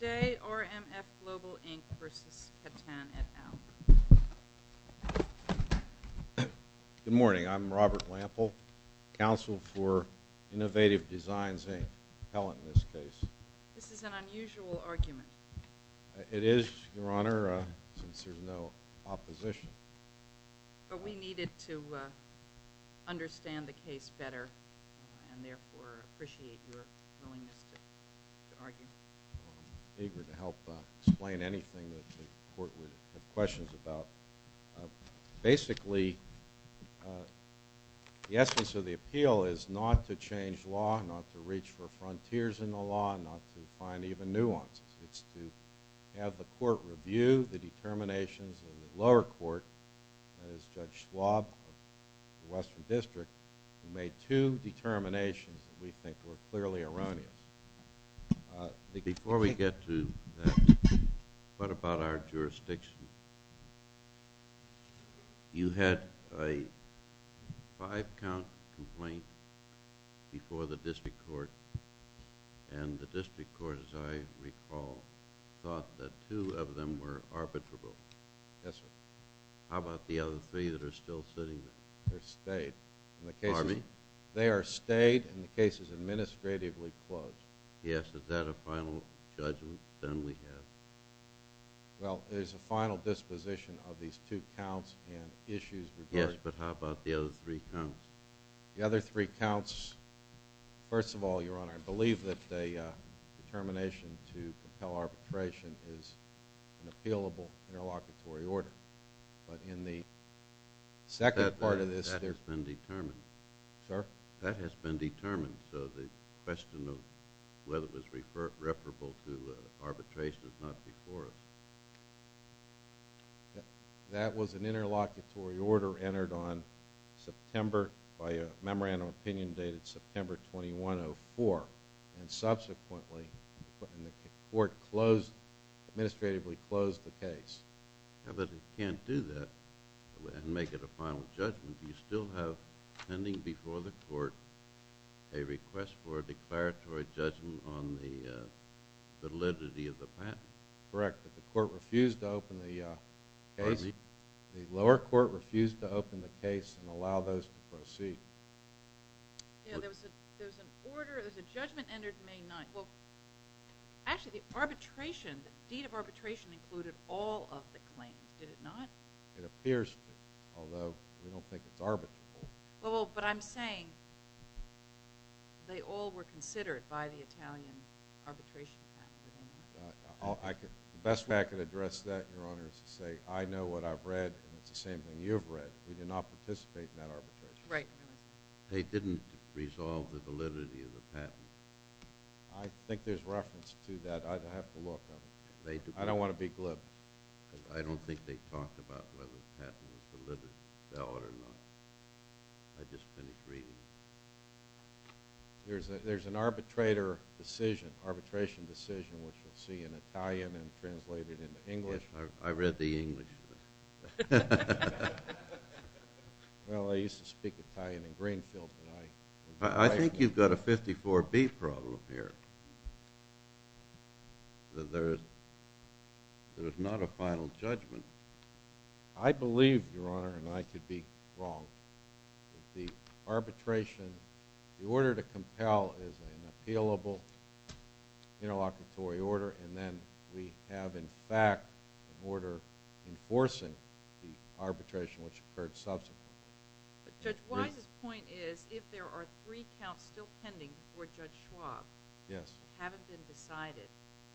Good morning. I'm Robert Lample, counsel for Innovative Designs, Inc., Pellant, in this case. This is an unusual argument. It is, Your Honor, since there's no opposition. But we needed to understand the case better and therefore appreciate your willingness to argue. I'm eager to help explain anything that the court would have questions about. Basically, the essence of the appeal is not to change law, not to reach for frontiers in the law, not to find even nuances. It's to have the court review the determinations of the lower court, that is Judge Schwab of the Western District, who made two determinations that we think were clearly erroneous. Before we get to that, what about our jurisdiction? You had a five-count complaint before the court. How about the other three that are still sitting? They're stayed. Army? They are stayed and the case is administratively closed. Yes. Is that a final judgment then we have? Well, there's a final disposition of these two counts and issues regarding Yes, but how about the other three counts? The other three counts, first of all, Your Honor, I believe that the determination to But in the second part of this That has been determined. Sir? That has been determined, so the question of whether it was referable to arbitration is not before us. That was an interlocutory order entered on September, by a memorandum of opinion dated September 21, 2004, and subsequently the court closed, administratively closed the case. But it can't do that and make it a final judgment. You still have pending before the court a request for a declaratory judgment on the validity of the patent. Correct, but the lower court refused to open the case and allow those to proceed. There was an order, there was a judgment entered May 9. Actually, the arbitration, the deed of arbitration included all of the claims, did it not? It appears to, although we don't think it's arbitrable. Well, but I'm saying they all were considered by the Italian arbitration faculty. The best way I could address that, Your Honor, is to say I know what I've read and it's the same thing you've read. We did not participate in that arbitration. Right. They didn't resolve the validity of the patent. I think there's reference to that. I'd have to look. I don't want to be glib. I don't think they talked about whether the patent was valid or not. I just couldn't agree. There's an arbitrator decision, arbitration decision, which you'll see in Italian and translated into English. Yes, I read the English. Well, I used to speak Italian in Greenfield. I think you've got a 54B problem here, that there's not a final judgment. I believe, Your Honor, and I could be wrong, that the arbitration, the order to compel is an appealable, interlocutory order, and then we have, in fact, an order enforcing the arbitration which occurred subsequently. Judge Wise's point is if there are three counts still pending before Judge Schwab haven't been decided.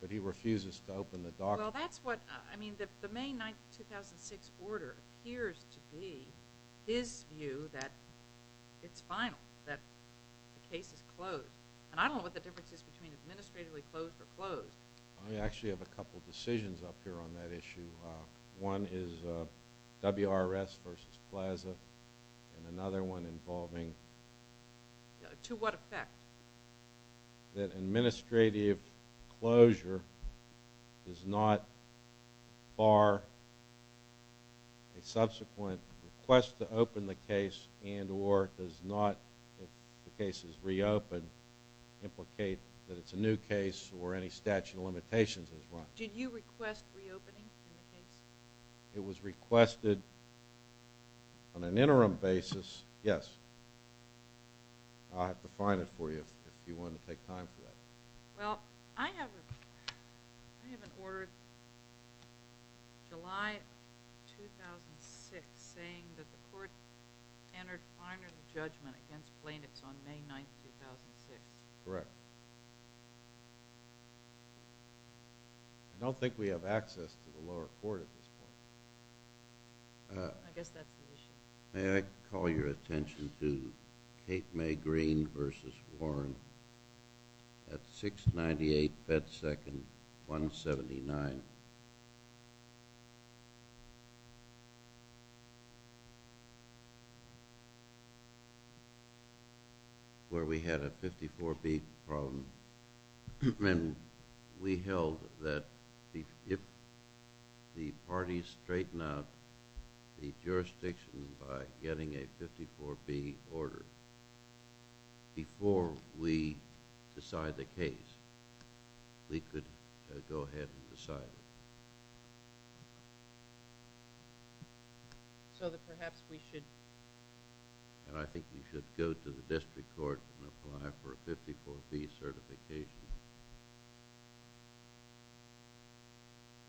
But he refuses to open the document. Well, that's what, I mean, the May 9, 2006 order appears to be his view that it's final, that the case is closed. And I don't know what the difference is between administratively closed or closed. I actually have a couple decisions up here on that issue. One is WRS versus Plaza, and another one involving... To what effect? That administrative closure does not bar a subsequent request to open the case and or does not, if the case is reopened, implicate that it's a new case or any statute of limitations as well. Did you request reopening of the case? It was requested on an interim basis, yes. I'll have to find it for you if you want to take time for that. Well, I have an order July 2006 saying that the court entered final judgment against Plaintiffs on May 9, 2006. Correct. I don't think we have access to the lower court at this point. I guess that's the issue. May I call your attention to Kate Mae Greene versus Warren at 698 Beth 2nd, 179? Where we had a 54B problem, and we held that if the parties straighten out the jurisdiction by getting a 54B order before we decide the case, we could go ahead and decide it. So that perhaps we should... I think we should go to the district court and apply for a 54B certification.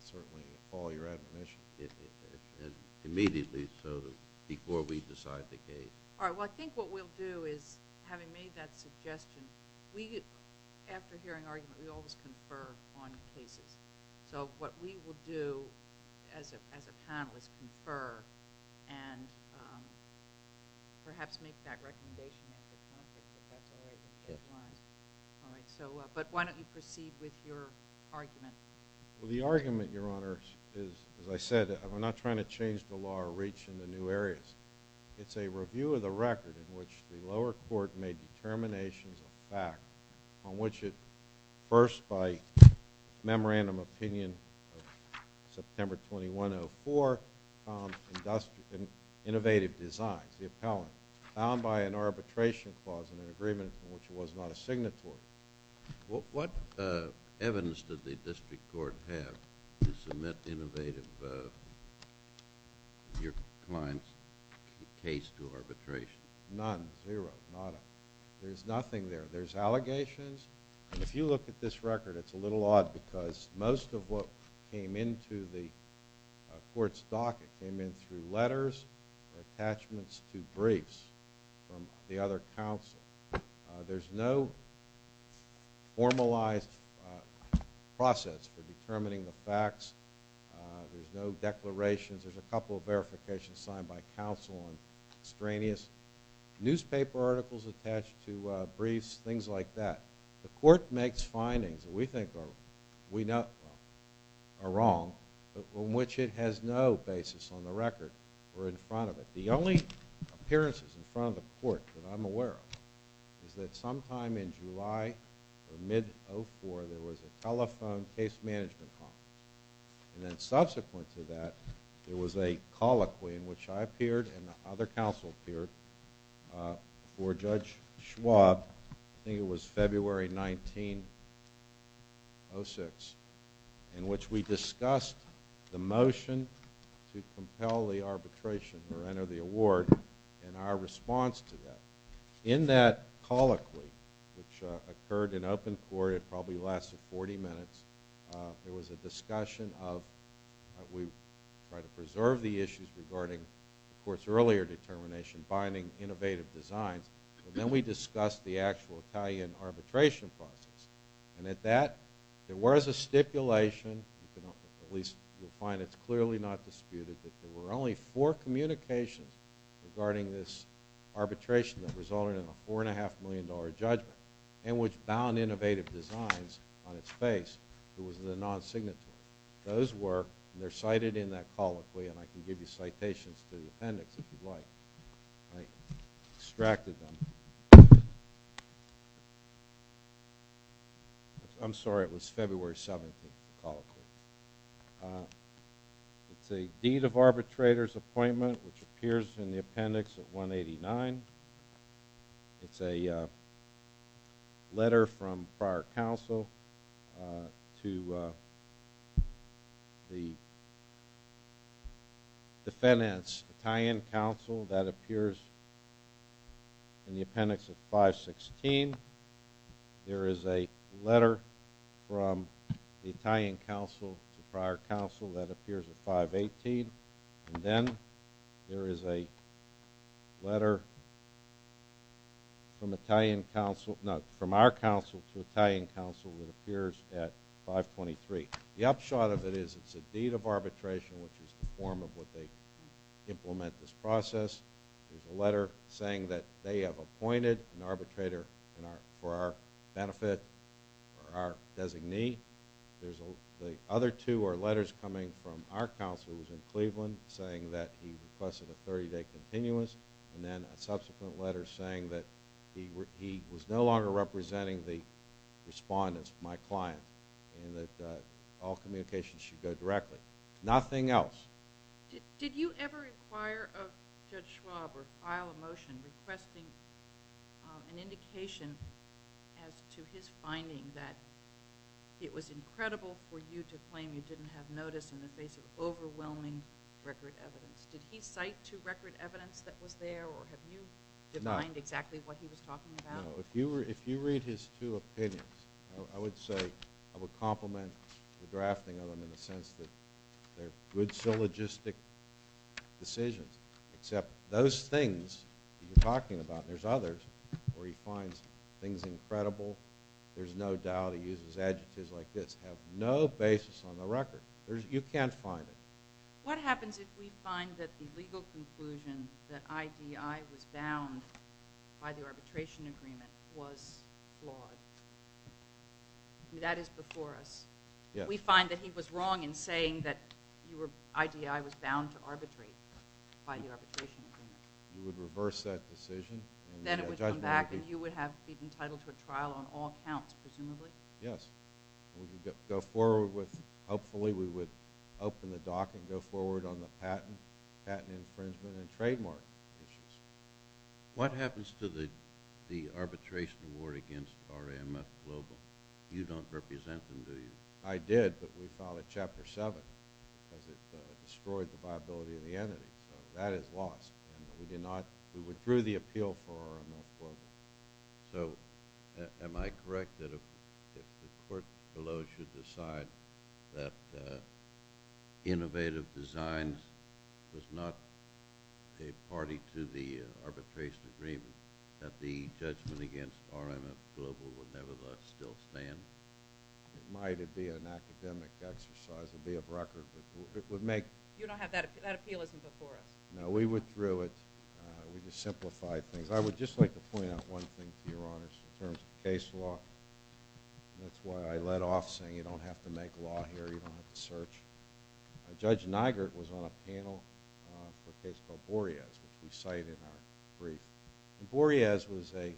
Certainly, we'll call your admonition. Immediately, so before we decide the case. All right. Well, I think what we'll do is, having made that suggestion, we, after hearing argument, we always confer on cases. So what we will do as a panel is confer and perhaps make that recommendation. But why don't you proceed with your argument? Well, the argument, Your Honor, is, as I said, we're not trying to change the law or reach into new areas. It's a review of the record in which the lower court made determinations of fact on which it, first by memorandum opinion of September 2104, innovative designs, the appellant, found by an arbitration clause in an agreement in which it was not a signatory. Well, what evidence did the district court have to submit innovative, your client's case to arbitration? None, zero, none. There's nothing there. There's allegations. If you look at this record, it's a little odd because most of what came into the court's docket came in through letters, attachments to briefs from the other counsel. There's no formalized process for determining the facts. There's no declarations. There's a couple of verifications signed by counsel on extraneous newspaper articles attached to briefs, things like that. The court makes findings that we think are wrong on which it has no basis on the record or in front of it. The only appearances in front of the court that I'm aware of is that sometime in July of mid-2004, there was a telephone case management conference, and then subsequent to that, there was a colloquy in which I appeared and the other counsel appeared before Judge Schwab. I think it was February 19, 2006, in which we discussed the motion to compel the arbitration or enter the award and our response to that. In that colloquy, which occurred in open court, it probably lasted 40 minutes, there was a discussion of we try to preserve the issues regarding the court's earlier determination, combining innovative designs, and then we discussed the actual Italian arbitration process. And at that, there was a stipulation, at least you'll find it's clearly not disputed, that there were only four communications regarding this arbitration that resulted in a $4.5 million judgment and which found innovative designs on its face. It was the non-signatory. Those work. They're cited in that colloquy, and I can give you citations to the appendix if you'd like. I extracted them. I'm sorry, it was February 17th, the colloquy. It's a deed of arbitrator's appointment, which appears in the appendix at 189. It's a letter from prior counsel to the defendant's Italian counsel that appears in the appendix at 516. There is a letter from the Italian counsel to prior counsel that appears at 518. And then there is a letter from our counsel to Italian counsel that appears at 523. The upshot of it is it's a deed of arbitration, which is the form of what they implement this process. There's a letter saying that they have appointed an arbitrator for our benefit, our designee. The other two are letters coming from our counsel, who was in Cleveland, saying that he requested a 30-day continuous, and then a subsequent letter saying that he was no longer representing the respondents, my client, and that all communications should go directly. Nothing else. Did you ever inquire of Judge Schwab or file a motion requesting an indication as to his finding that it was incredible for you to claim you didn't have notice in the face of overwhelming record evidence? Did he cite to record evidence that was there, or have you defined exactly what he was talking about? No. If you read his two opinions, I would say I would compliment the drafting of them in the sense that they're good syllogistic decisions, except those things he's talking about, and there's others, where he finds things incredible, there's no doubt he uses adjectives like this, have no basis on the record. You can't find it. What happens if we find that the legal conclusion that IDI was bound by the arbitration agreement was flawed? That is before us. We find that he was wrong in saying that IDI was bound to arbitrate by the arbitration agreement. You would reverse that decision? Then it would come back, and you would be entitled to a trial on all counts, presumably? Yes. Hopefully we would open the dock and go forward on the patent infringement and trademark issues. What happens to the arbitration award against RMF Global? You don't represent them, do you? I did, but we filed it Chapter 7 because it destroyed the viability of the entity. That is lost. We withdrew the appeal for RMF Global. Am I correct that if the court below should decide that Innovative Designs was not a party to the arbitration agreement, that the judgment against RMF Global would nevertheless still stand? It might be an academic exercise. It would be a record. That appeal isn't before us. No, we withdrew it. We just simplified things. I would just like to point out one thing, Your Honor, in terms of case law. That's why I let off saying you don't have to make law here. You don't have to search. Judge Nigert was on a panel for a case called Boreas, which we cite in our brief. Boreas was a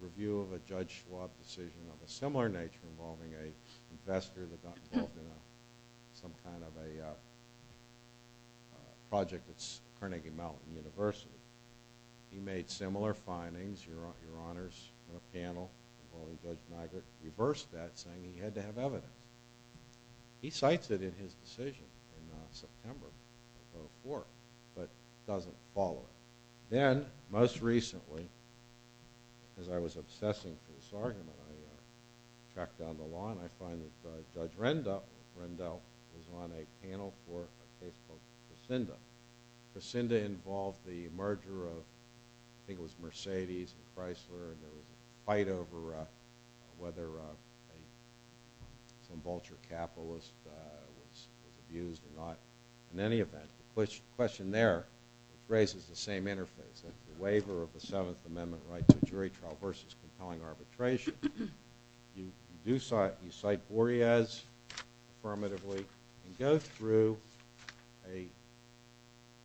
review of a Judge Schwab decision of a similar nature involving an investor that got involved in some kind of a project at Carnegie Mellon University. He made similar findings, Your Honors, in a panel. Judge Nigert reversed that, saying he had to have evidence. He cites it in his decision in September of 2004, but doesn't follow it. Then, most recently, as I was obsessing through this argument, I tracked down the law, and I find that Judge Rendell was on a panel for a case called Cassinda. Cassinda involved the merger of, I think it was Mercedes and Chrysler, in a fight over whether some vulture capitalist was abused or not. In any event, the question there raises the same interface. The waiver of the Seventh Amendment right to jury trial versus compelling arbitration. You cite Boreas affirmatively and go through a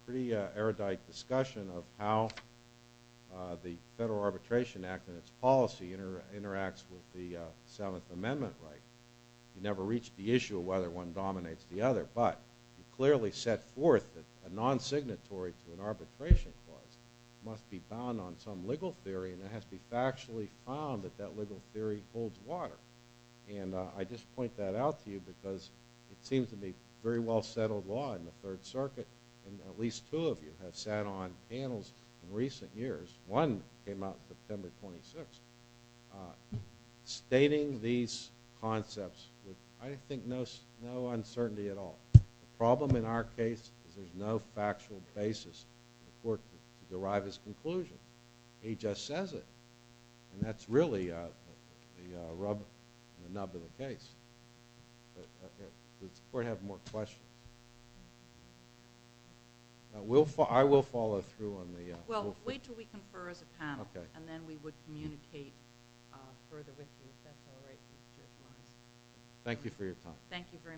pretty erudite discussion of how the Federal Arbitration Act and its policy interacts with the Seventh Amendment right. You never reach the issue of whether one dominates the other, but you clearly set forth that a non-signatory to an arbitration clause must be bound on some legal theory, and it has to be factually found that that legal theory holds water. I just point that out to you because it seems to be very well-settled law in the Third Circuit, and at least two of you have sat on panels in recent years. One came out on September 26th, stating these concepts with, I think, no uncertainty at all. The problem in our case is there's no factual basis for the court to derive its conclusion. He just says it, and that's really the rub on the nub of the case. Does the court have more questions? I will follow through on the – Well, wait until we confer as a panel, and then we would communicate further with you. Thank you for your time. Thank you very much.